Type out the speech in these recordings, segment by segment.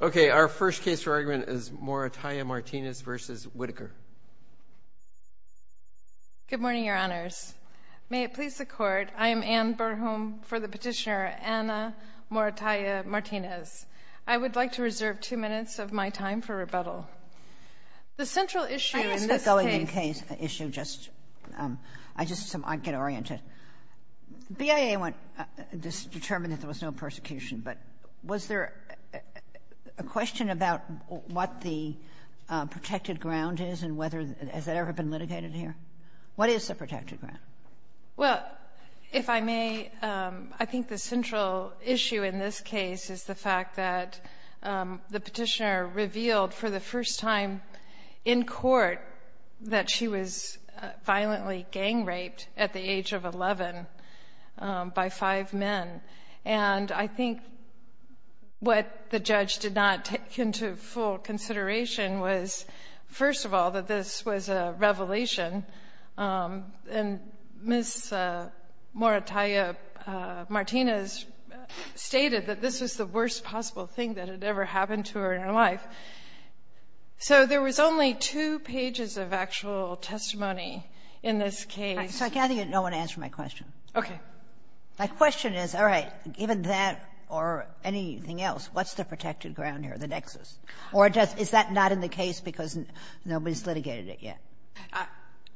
Our first case for argument is Morataya-Martinez v. Whitaker. Good morning, Your Honors. May it please the Court, I am Anne Berhom for the Petitioner, Anna Morataya-Martinez. I would like to reserve two minutes of my time for rebuttal. The central issue in this case— I ask that going in case issue just—I just—I get oriented. The BIA went—determined that there was no persecution, but was there a question about what the protected ground is and whether—has that ever been litigated here? What is the protected ground? Well, if I may, I think the central issue in this case is the fact that the Petitioner revealed for the first time in court that she was violently gang-raped at the age of 11 by five men. And I think what the judge did not take into full consideration was, first of all, that this was a revelation. And Ms. Morataya-Martinez stated that this was the worst possible thing that had ever happened to her in her life. So there was only two pages of actual testimony in this case. So I gather you don't want to answer my question. Okay. My question is, all right, given that or anything else, what's the protected ground here, the nexus? Or is that not in the case because nobody's litigated it yet?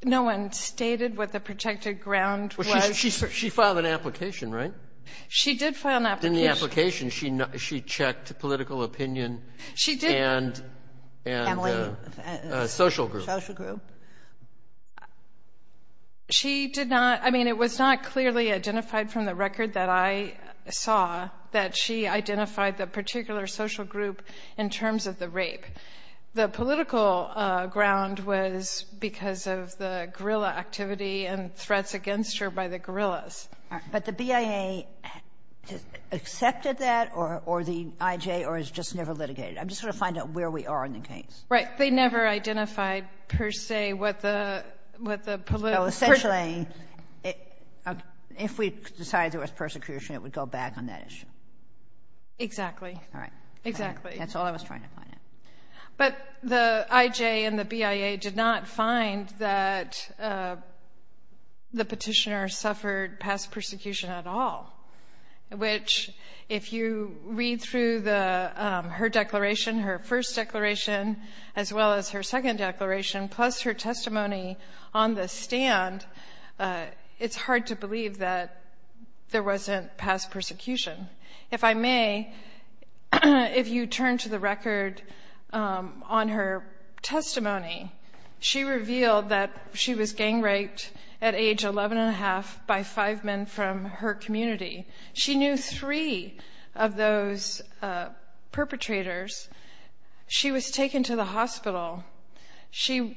No one stated what the protected ground was. Well, she filed an application, right? She did file an application. In the application, she checked political opinion and the social group. Social group. She did not. I mean, it was not clearly identified from the record that I saw that she identified the particular social group in terms of the rape. The political ground was because of the guerrilla activity and threats against her by the guerrillas. But the BIA accepted that or the IJ or has just never litigated it? I'm just trying to find out where we are in the case. Right. They never identified per se what the political group was. So essentially, if we decided there was persecution, it would go back on that issue. Exactly. All right. Exactly. That's all I was trying to find out. But the IJ and the BIA did not find that the petitioner suffered past persecution at all, which if you read through her declaration, her first declaration, as well as her second declaration, plus her testimony on the stand, it's hard to believe that there wasn't past persecution. If I may, if you turn to the record on her testimony, she revealed that she was gang raped at age 11 and a half by five men from her community. She knew three of those perpetrators. She was taken to the hospital. She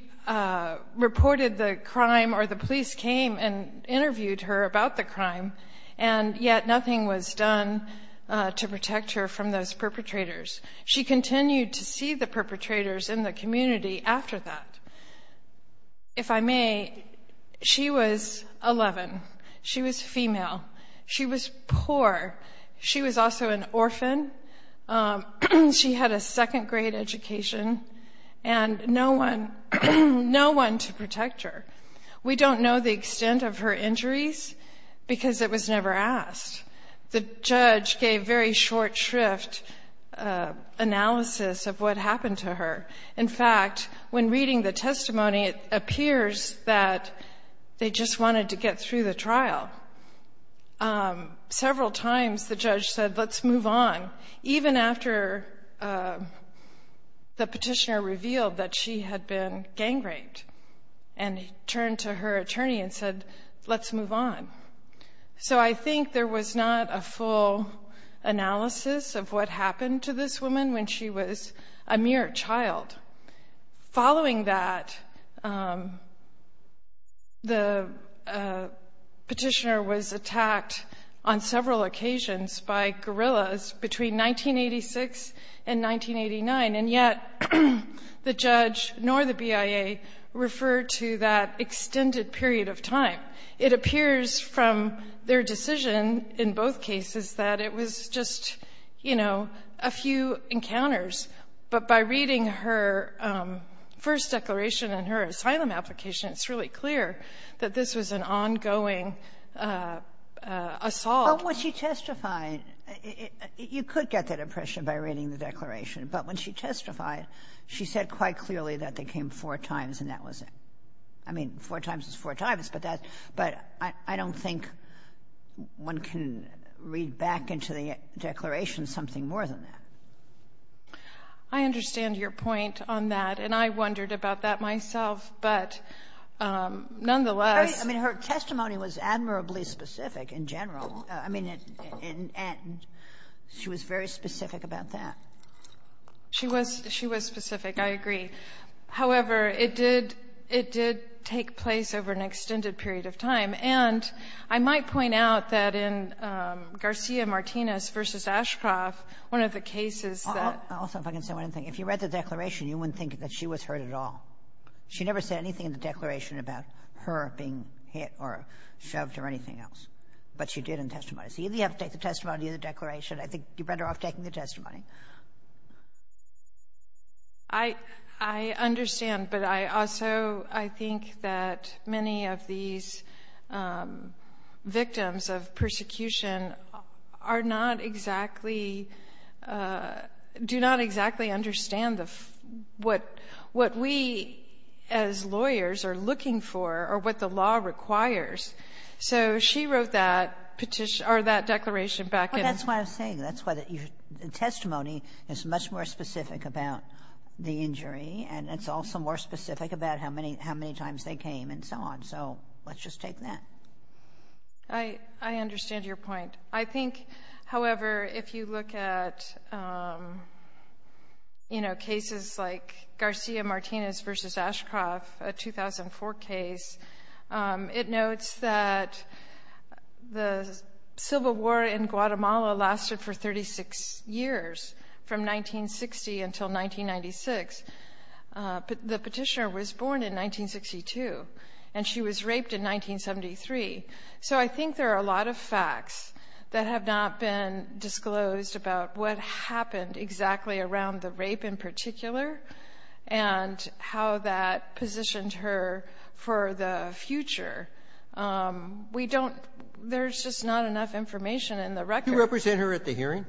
reported the crime or the police came and interviewed her about the crime, and yet nothing was done to protect her from those perpetrators. She continued to see the perpetrators in the community after that. If I may, she was 11. She was female. She was poor. She was also an orphan. She had a second-grade education and no one to protect her. We don't know the extent of her injuries because it was never asked. The judge gave very short shrift analysis of what happened to her. In fact, when reading the testimony, it appears that they just wanted to get through the trial. Several times the judge said, let's move on, even after the petitioner revealed that she had been gang raped and turned to her attorney and said, let's move on. So I think there was not a full analysis of what happened to this woman when she was a mere child. Following that, the petitioner was attacked on several occasions by guerrillas between 1986 and 1989, and yet the judge nor the BIA referred to that extended period of time. It appears from their decision in both cases that it was just, you know, a few encounters. But by reading her first declaration and her asylum application, it's really clear that this was an ongoing assault. But when she testified, you could get that impression by reading the declaration. But when she testified, she said quite clearly that they came four times and that was it. I mean, four times is four times, but I don't think one can read back into the declaration something more than that. I understand your point on that, and I wondered about that myself. But nonetheless — Kagan. I mean, her testimony was admirably specific in general. I mean, and she was very specific about that. She was specific. I agree. However, it did take place over an extended period of time. And I might point out that in Garcia-Martinez v. Ashcroft, one of the cases that — Also, if I can say one other thing. If you read the declaration, you wouldn't think that she was hurt at all. She never said anything in the declaration about her being hit or shoved or anything else. But she did in testimony. So either you have to take the testimony or the declaration. I think you're better off taking the testimony. I understand, but I also — I think that many of these victims of persecution are not exactly — do not exactly understand the — what we, as lawyers, are looking for or what the law requires. So she wrote that petition — or that declaration back in — that testimony is much more specific about the injury, and it's also more specific about how many times they came and so on. So let's just take that. I understand your point. I think, however, if you look at, you know, cases like Garcia-Martinez v. Ashcroft, a 2004 case, it notes that the Civil War in Guatemala lasted for 36 years, from 1960 until 1996. The petitioner was born in 1962, and she was raped in 1973. So I think there are a lot of facts that have not been disclosed about what happened exactly around the rape in particular and how that positioned her for the future. We don't — there's just not enough information in the record. Do you represent her at the hearing?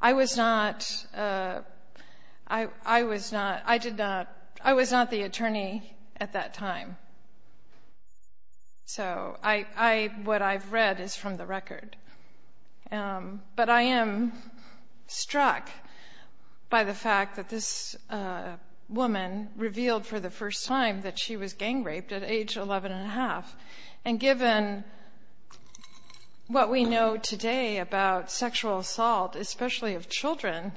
I was not — I was not — I did not — I was not the attorney at that time. So I — what I've read is from the record. But I am struck by the fact that this woman revealed for the first time that she was gang raped at age 11 1⁄2. And given what we know today about sexual assault, especially of children,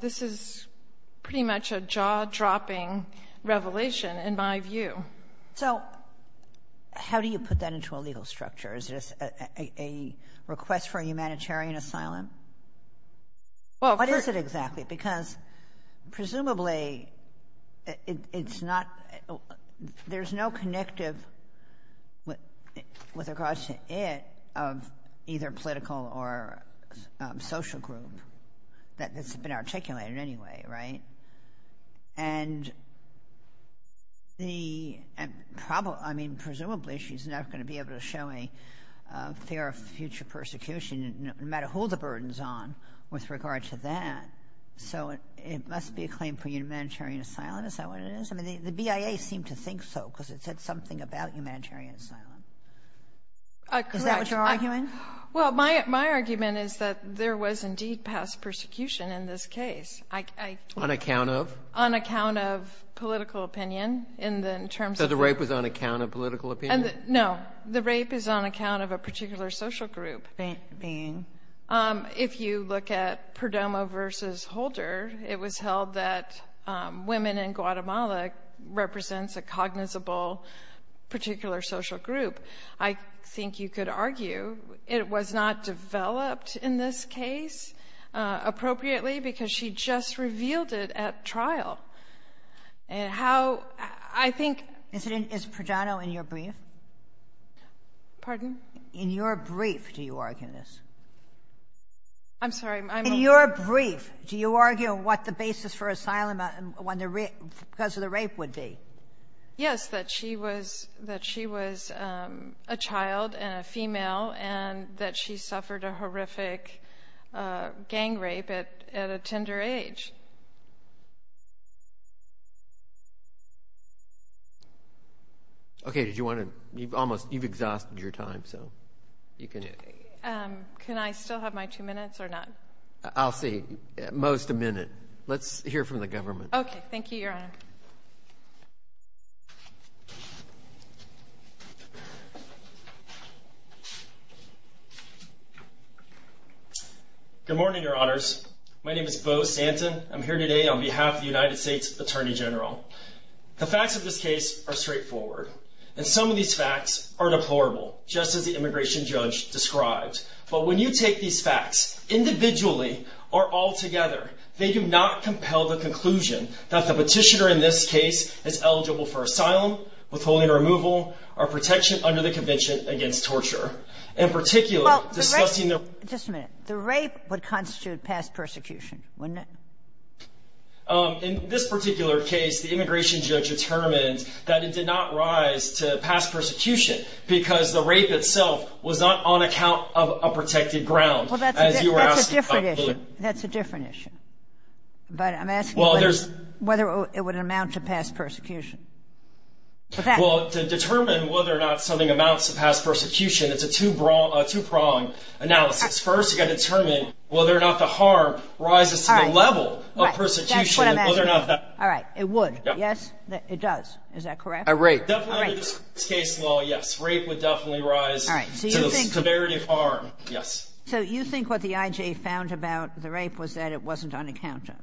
this is pretty much a jaw-dropping revelation, in my view. So how do you put that into a legal structure? Is this a request for a humanitarian asylum? What is it exactly? Because presumably it's not — there's no connective, with regards to it, of either political or social group that's been articulated anyway, right? And the — I mean, presumably she's not going to be able to show a fear of future persecution, no matter who the burden's on, with regard to that. So it must be a claim for humanitarian asylum. Is that what it is? I mean, the BIA seemed to think so because it said something about humanitarian asylum. Is that what you're arguing? Well, my argument is that there was indeed past persecution in this case. On account of? On account of political opinion in terms of — So the rape was on account of political opinion? No, the rape is on account of a particular social group. Being? If you look at Perdomo v. Holder, it was held that women in Guatemala represents a cognizable particular social group. I think you could argue it was not developed in this case appropriately because she just revealed it at trial. And how — I think — Is Perdomo in your brief? Pardon? In your brief, do you argue this? I'm sorry, I'm — In your brief, do you argue what the basis for asylum because of the rape would be? Yes, that she was a child and a female and that she suffered a horrific gang rape at a tender age. Okay, did you want to — you've exhausted your time, so you can — Can I still have my two minutes or not? I'll see. Most a minute. Let's hear from the government. Okay, thank you, Your Honor. Good morning, Your Honors. My name is Beau Stanton. I'm here today on behalf of the United States Attorney General. The facts of this case are straightforward, and some of these facts are deplorable, just as the immigration judge described. But when you take these facts individually or altogether, they do not compel the conclusion that the petitioner in this case is eligible for asylum, withholding removal, or protection under the convention against torture. In particular, discussing the — Well, the rape — just a minute. The rape would constitute past persecution, wouldn't it? In this particular case, the immigration judge determined that it did not rise to past persecution because the rape itself was not on account of a protected ground. Well, that's a different issue. That's a different issue. But I'm asking whether it would amount to past persecution. Well, to determine whether or not something amounts to past persecution, it's a two-pronged analysis. First, you've got to determine whether or not the harm rises to the level of persecution, whether or not that — That's what I'm asking. All right. It would. Yes? It does. Is that correct? A rape. A rape. Definitely under this case law, yes. Rape would definitely rise to the severity of harm. All right. So you think — Yes. So you think what the I.J. found about the rape was that it wasn't on account of?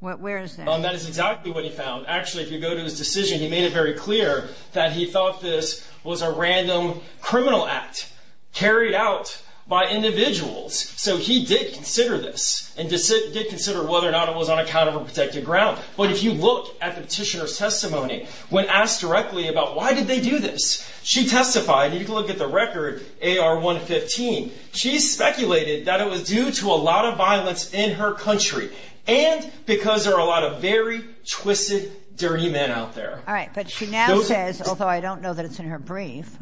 Where is that? That is exactly what he found. Actually, if you go to his decision, he made it very clear that he thought this was a random criminal act carried out by individuals. So he did consider this and did consider whether or not it was on account of a protected ground. But if you look at the petitioner's testimony, when asked directly about why did they do this, she testified — You can look at the record, AR-115. She speculated that it was due to a lot of violence in her country and because there are a lot of very twisted, dirty men out there. All right. But she now says, although I don't know that it's in her brief,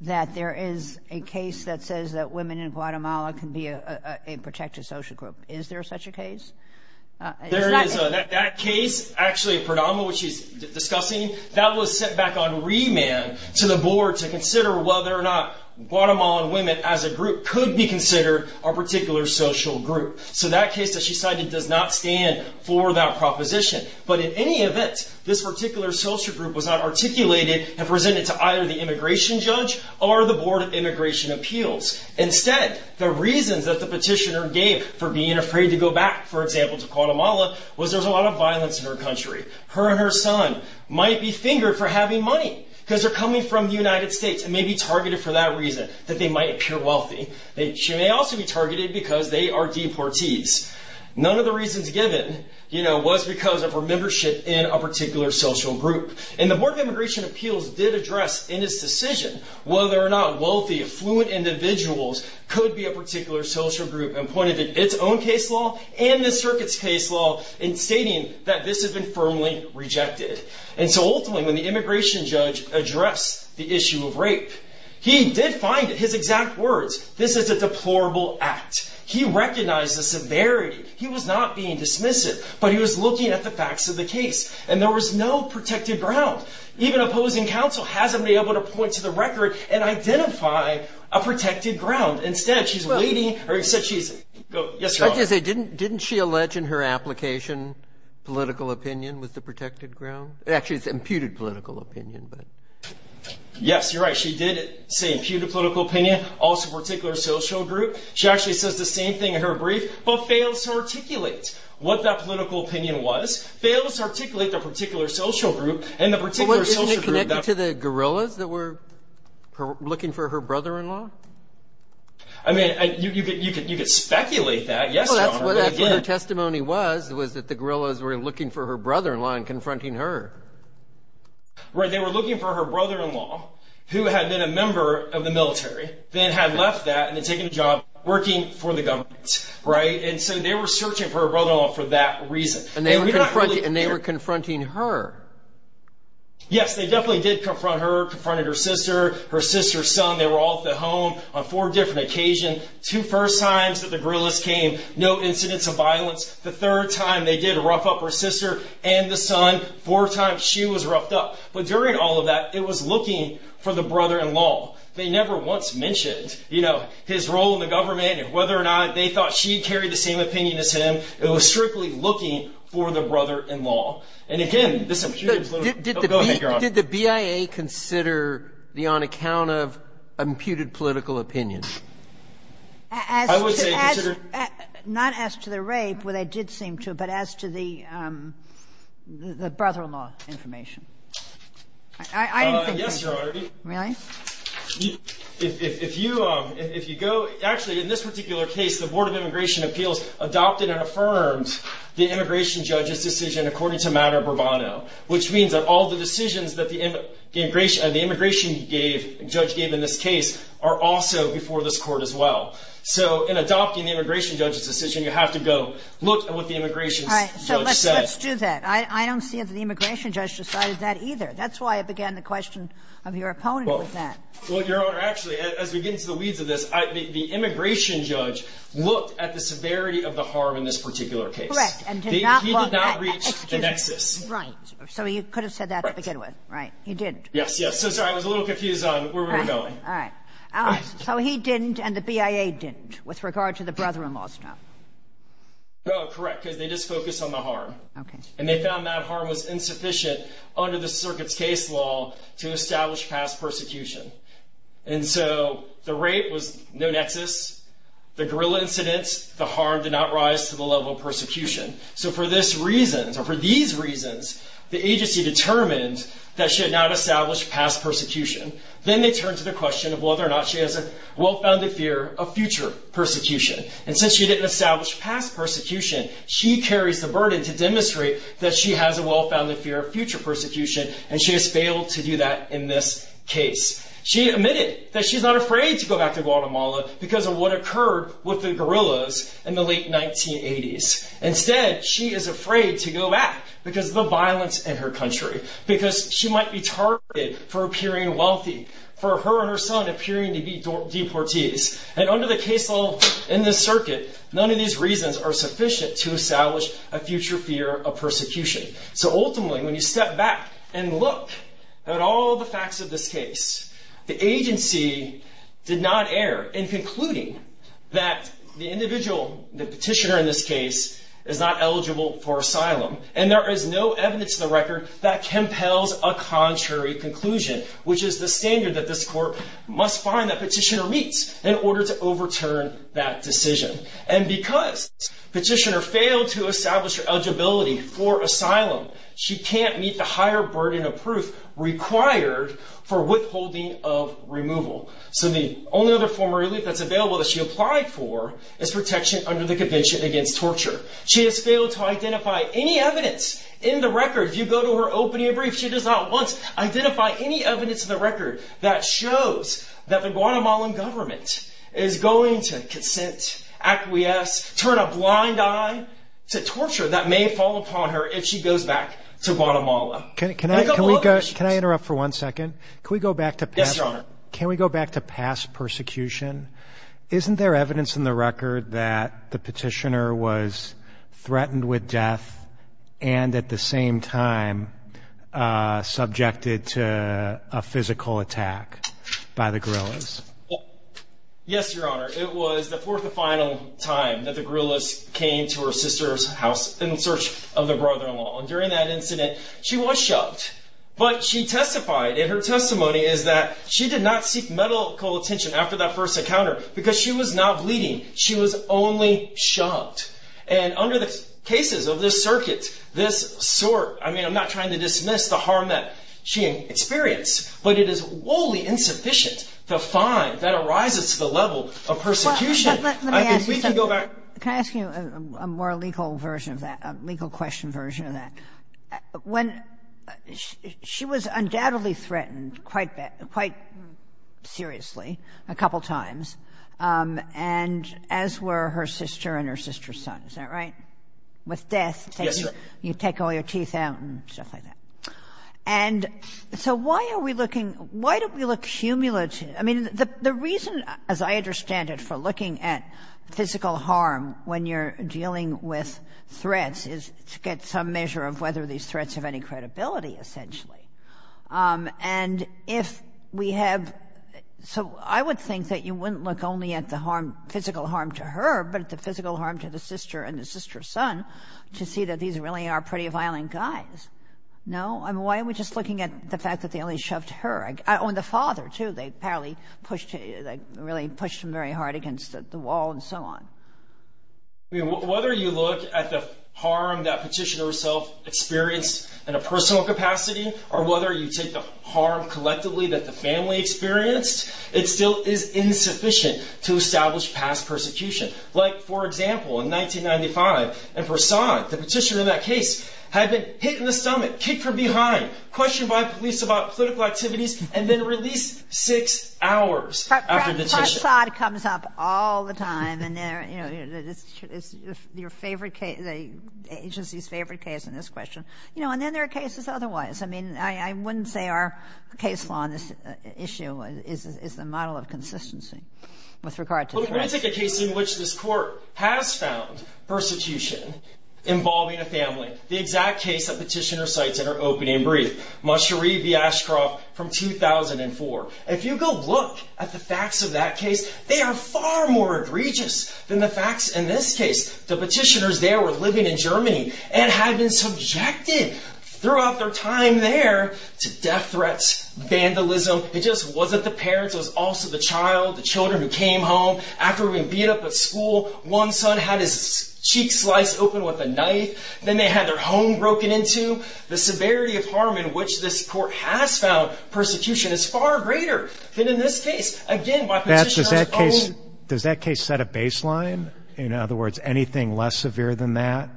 that there is a case that says that women in Guatemala can be a protected social group. Is there such a case? There is. So in that case, actually, Pradama, which she's discussing, that was set back on remand to the board to consider whether or not Guatemalan women as a group could be considered a particular social group. So that case that she cited does not stand for that proposition. But in any event, this particular social group was not articulated and presented to either the immigration judge or the Board of Immigration Appeals. Instead, the reasons that the petitioner gave for being afraid to go back, for example, to Guatemala was there's a lot of violence in her country. Her and her son might be fingered for having money because they're coming from the United States and may be targeted for that reason, that they might appear wealthy. She may also be targeted because they are deportees. None of the reasons given was because of her membership in a particular social group. And the Board of Immigration Appeals did address in its decision whether or not wealthy, affluent individuals could be a particular social group and pointed to its own case law and the circuit's case law in stating that this has been firmly rejected. And so ultimately, when the immigration judge addressed the issue of rape, he did find his exact words. This is a deplorable act. He recognized the severity. He was not being dismissive. But he was looking at the facts of the case. And there was no protected ground. Even opposing counsel hasn't been able to point to the record and identify a protected ground. Instead, she's waiting. Didn't she allege in her application political opinion was the protected ground? Actually, it's imputed political opinion. Yes, you're right. She did say imputed political opinion, also particular social group. She actually says the same thing in her brief but fails to articulate what that political opinion was, fails to articulate the particular social group and the particular social group. Isn't it connected to the gorillas that were looking for her brother-in-law? I mean, you could speculate that. Yes, Your Honor. Well, that's what her testimony was, was that the gorillas were looking for her brother-in-law and confronting her. Right. They were looking for her brother-in-law, who had been a member of the military, then had left that and had taken a job working for the government. Right. And so they were searching for her brother-in-law for that reason. And they were confronting her. Yes, they definitely did confront her, confronted her sister, her sister's son. They were all at the home on four different occasions. Two first times that the gorillas came, no incidents of violence. The third time they did rough up her sister and the son. Four times she was roughed up. But during all of that, it was looking for the brother-in-law. They never once mentioned, you know, his role in the government and whether or not they thought she carried the same opinion as him. It was strictly looking for the brother-in-law. And, again, this imputes literally the behavior of the gorillas. Did the BIA consider the on account of imputed political opinion? I would say considered. Not as to the rape where they did seem to, but as to the brother-in-law information. Yes, Your Honor. Really? If you go, actually, in this particular case, the Board of Immigration Appeals adopted and affirmed the immigration judge's decision according to matter of bravado, which means that all the decisions that the immigration judge gave in this case are also before this court as well. So in adopting the immigration judge's decision, you have to go look at what the immigration judge said. All right. So let's do that. I don't see if the immigration judge decided that either. That's why I began the question of your opponent with that. Well, Your Honor, actually, as we get into the weeds of this, the immigration judge looked at the severity of the harm in this particular case. Correct. And did not look at the nexus. Right. So he could have said that to begin with. Right. He didn't. Yes. Yes. So I was a little confused on where we were going. All right. All right. So he didn't and the BIA didn't with regard to the brother-in-law stuff? No, correct, because they just focused on the harm. Okay. And they found that harm was insufficient under the circuit's case law to establish past persecution. And so the rape was no nexus. The guerrilla incidents, the harm did not rise to the level of persecution. So for this reason, or for these reasons, the agency determined that she had not established past persecution. Then they turned to the question of whether or not she has a well-founded fear of future persecution. And since she didn't establish past persecution, she carries the burden to demonstrate that she has a well-founded fear of future persecution, and she has failed to do that in this case. She admitted that she's not afraid to go back to Guatemala because of what occurred with the guerrillas in the late 1980s. Instead, she is afraid to go back because of the violence in her country, because she might be targeted for appearing wealthy, for her and her son appearing to be deportees. And under the case law in this circuit, none of these reasons are sufficient to establish a future fear of persecution. So ultimately, when you step back and look at all the facts of this case, the agency did not err in concluding that the individual, the petitioner in this case, is not eligible for asylum. And there is no evidence to the record that compels a contrary conclusion, which is the standard that this court must find that petitioner meets in order to overturn that decision. And because petitioner failed to establish her eligibility for asylum, she can't meet the higher burden of proof required for withholding of removal. So the only other form of relief that's available that she applied for is protection under the Convention Against Torture. She has failed to identify any evidence in the record. If you go to her opening brief, she does not once identify any evidence in the record that shows that the Guatemalan government is going to consent, acquiesce, turn a blind eye to torture that may fall upon her if she goes back to Guatemala. Can I interrupt for one second? Can we go back to past persecution? Isn't there evidence in the record that the petitioner was threatened with death and at the same time subjected to a physical attack by the guerrillas? Yes, Your Honor. It was the fourth and final time that the guerrillas came to her sister's house in search of their brother-in-law. And during that incident, she was shoved. But she testified in her testimony is that she did not seek medical attention after that first encounter because she was not bleeding. She was only shoved. And under the cases of this circuit, this sort, I mean, I'm not trying to dismiss the harm that she experienced, but it is woefully insufficient to find that arises to the level of persecution. Let me ask you something. I think we can go back. Can I ask you a more legal version of that, a legal question version of that? When she was undoubtedly threatened quite, quite seriously a couple times, and as were her sister and her sister's son. Is that right? With death. Yes, Your Honor. You take all your teeth out and stuff like that. And so why are we looking, why do we look cumulative? I mean, the reason, as I understand it, for looking at physical harm when you're dealing with threats is to get some measure of whether these threats have any credibility, essentially. And if we have, so I would think that you wouldn't look only at the physical harm to her, but at the physical harm to the sister and the sister's son to see that these really are pretty violent guys. No? I mean, why are we just looking at the fact that they only shoved her? And the father, too. They really pushed him very hard against the wall and so on. Whether you look at the harm that petitioner herself experienced in a personal capacity or whether you take the harm collectively that the family experienced, it still is insufficient to establish past persecution. Like, for example, in 1995 in Versailles, the petitioner in that case had been hit in the stomach, kicked from behind, questioned by police about political activities, and then released six hours after the petition. But, Brad, cross-thought comes up all the time, and there, you know, it's your favorite case, the agency's favorite case in this question. You know, and then there are cases otherwise. I mean, I wouldn't say our case law on this issue is the model of consistency with regard to threats. Well, let me take a case in which this Court has found persecution involving a family, the exact case that petitioner cites in her opening brief, Machery v. Ashcroft from 2004. If you go look at the facts of that case, they are far more egregious than the facts in this case. The petitioners there were living in Germany and had been subjected throughout their time there to death threats, vandalism. It just wasn't the parents. It was also the child, the children who came home after being beat up at school. One son had his cheek sliced open with a knife. Then they had their home broken into. The severity of harm in which this Court has found persecution is far greater than in this case. Again, by petitioner's own. Does that case set a baseline? In other words, anything less severe than that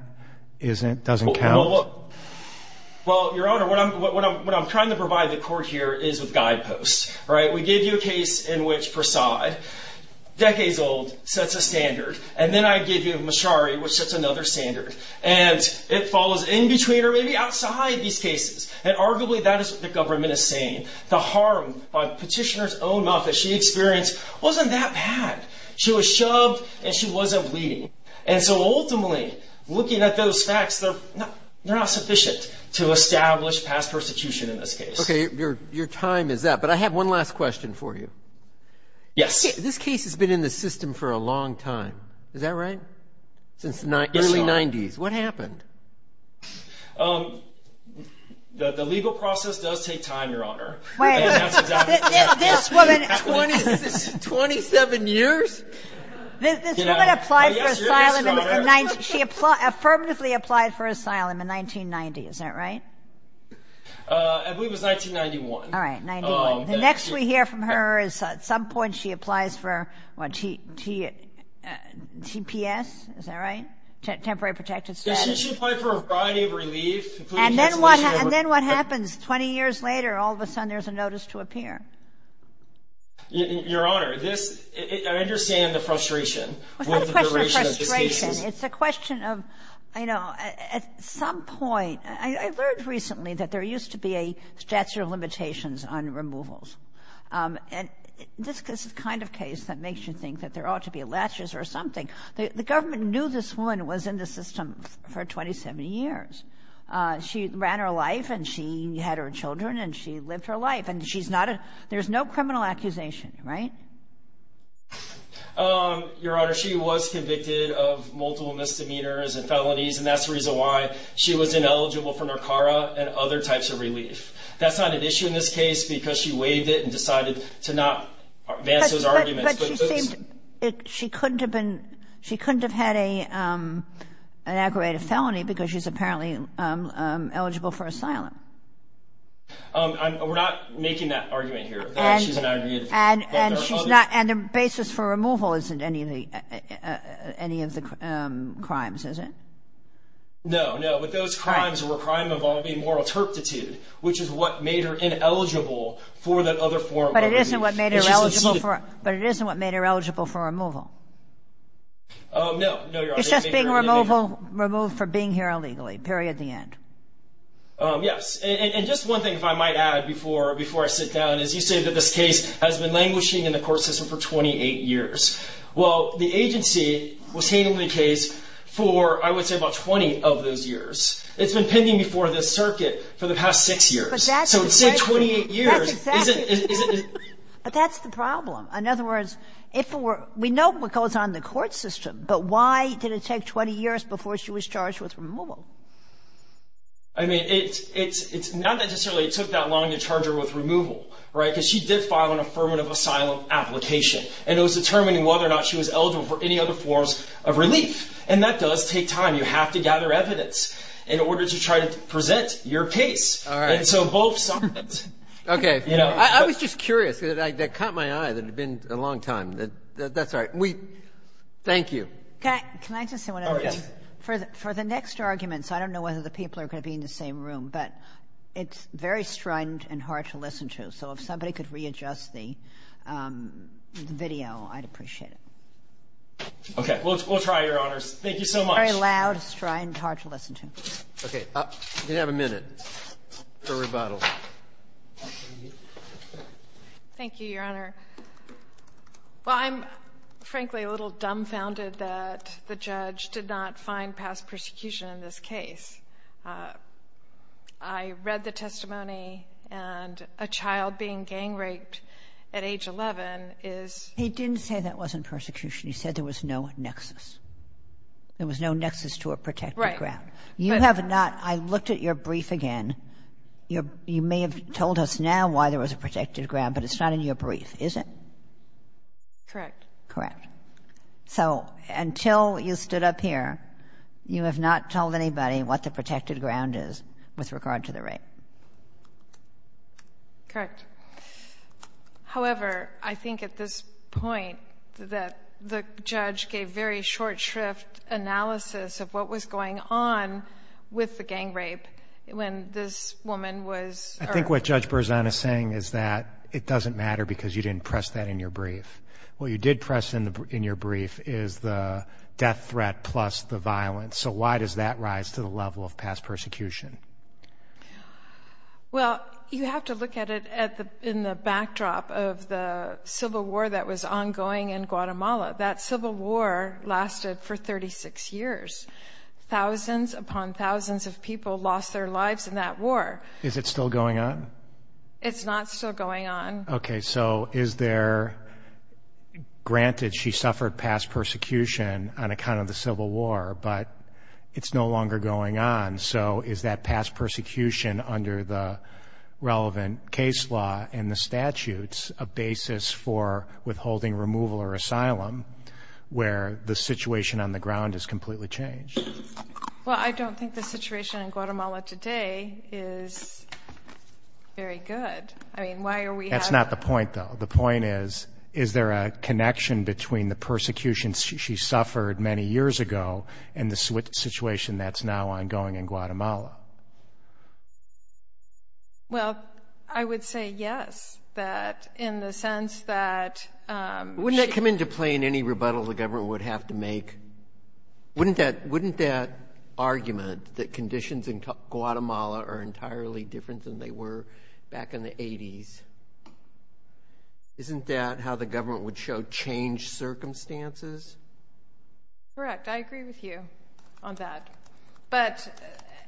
doesn't count? Well, Your Honor, what I'm trying to provide the Court here is with guideposts, right? We gave you a case in which Prasad, decades old, sets a standard, and then I gave you Machery, which sets another standard. And it falls in between or maybe outside these cases. And arguably that is what the government is saying. The harm by petitioner's own mouth that she experienced wasn't that bad. She was shoved and she wasn't bleeding. And so ultimately, looking at those facts, they're not sufficient to establish past persecution in this case. Okay, your time is up. But I have one last question for you. Yes. This case has been in the system for a long time. Is that right? Since the early 90s. Yes, Your Honor. What happened? The legal process does take time, Your Honor. Wait. This woman. Twenty-seven years? This woman applied for asylum in the 90s. She affirmatively applied for asylum in 1990. Is that right? I believe it was 1991. All right, 1991. The next we hear from her is at some point she applies for TPS. Is that right? Temporary Protected Status. She applied for a variety of relief. And then what happens? Twenty years later, all of a sudden there's a notice to appear. Your Honor, I understand the frustration. It's not a question of frustration. It's a question of, you know, at some point. I learned recently that there used to be a statute of limitations on removals. And this is the kind of case that makes you think that there ought to be latches or something. The government knew this woman was in the system for 27 years. She ran her life and she had her children and she lived her life. And there's no criminal accusation, right? Your Honor, she was convicted of multiple misdemeanors and felonies, and that's the reason why she was ineligible for NRCARA and other types of relief. That's not an issue in this case because she waived it and decided to not advance those arguments. But she seemed to have been ‑‑she couldn't have had an aggravated felony because she's apparently eligible for asylum. We're not making that argument here. And the basis for removal isn't any of the crimes, is it? No, no. But those crimes were crime involving moral turpitude, which is what made her ineligible for that other form of relief. But it isn't what made her eligible for removal. No, no, Your Honor. It's just being removed for being here illegally, period, the end. Yes. And just one thing, if I might add, before I sit down, is you say that this case has been languishing in the court system for 28 years. Well, the agency was handling the case for, I would say, about 20 of those years. It's been pending before this circuit for the past 6 years. But that's the question. So it's been 28 years. That's exactly it. But that's the problem. In other words, if it were ‑‑ we know what goes on in the court system, but why did it take 20 years before she was charged with removal? I mean, it's not necessarily it took that long to charge her with removal. Right? Because she did file an affirmative asylum application, and it was determining whether or not she was eligible for any other forms of relief. And that does take time. You have to gather evidence in order to try to present your case. All right. And so both sides. Okay. I was just curious. That caught my eye. That had been a long time. That's all right. Thank you. Can I just say one other thing? Oh, yes. For the next arguments, I don't know whether the people are going to be in the same room, but it's very strident and hard to listen to. So if somebody could readjust the video, I'd appreciate it. Okay. We'll try, Your Honors. Thank you so much. Very loud, strident, hard to listen to. Okay. You have a minute for rebuttal. Thank you, Your Honor. Well, I'm, frankly, a little dumbfounded that the judge did not find past persecution in this case. I read the testimony, and a child being gang-raped at age 11 is ---- He didn't say that wasn't persecution. He said there was no nexus. There was no nexus to a protected ground. Right. You have not. I looked at your brief again. You may have told us now why there was a protected ground, but it's not in your brief, is it? Correct. Correct. So until you stood up here, you have not told anybody what the protected ground is with regard to the rape. Correct. However, I think at this point that the judge gave very short shrift analysis of what was going on with the gang rape when this woman was ---- I think what Judge Berzon is saying is that it doesn't matter because you didn't press that in your brief. What you did press in your brief is the death threat plus the violence. So why does that rise to the level of past persecution? Well, you have to look at it in the backdrop of the civil war that was ongoing in Guatemala. That civil war lasted for 36 years. Thousands upon thousands of people lost their lives in that war. Is it still going on? It's not still going on. Okay. So is there ---- granted, she suffered past persecution on account of the civil war, but it's no longer going on. So is that past persecution under the relevant case law and the statutes a basis for withholding removal or asylum where the situation on the ground has completely changed? Well, I don't think the situation in Guatemala today is very good. I mean, why are we ---- That's not the point, though. The point is, is there a connection between the persecution she suffered many years ago and the situation that's now ongoing in Guatemala? Well, I would say yes, that in the sense that she ---- Wouldn't that come into play in any rebuttal the government would have to make? Wouldn't that argument that conditions in Guatemala are entirely different than they were back in the 80s, isn't that how the government would show changed circumstances? Correct. I agree with you on that. But,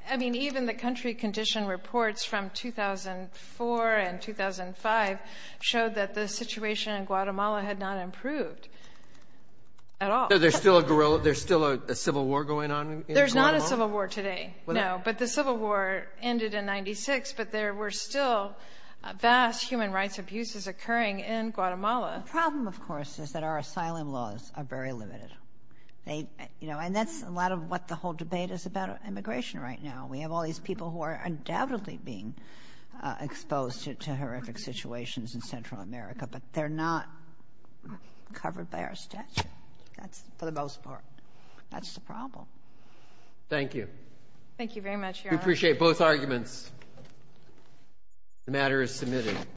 I mean, even the country condition reports from 2004 and 2005 showed that the situation in Guatemala had not improved at all. So there's still a guerrilla ---- There's still a civil war going on in Guatemala? There's not a civil war today, no. But the civil war ended in 1996, but there were still vast human rights abuses occurring in Guatemala. The problem, of course, is that our asylum laws are very limited. And that's a lot of what the whole debate is about immigration right now. We have all these people who are undoubtedly being exposed to horrific situations in Central America, but they're not covered by our statute, for the most part. That's the problem. Thank you. Thank you very much, Your Honor. We appreciate both arguments. The matter is submitted.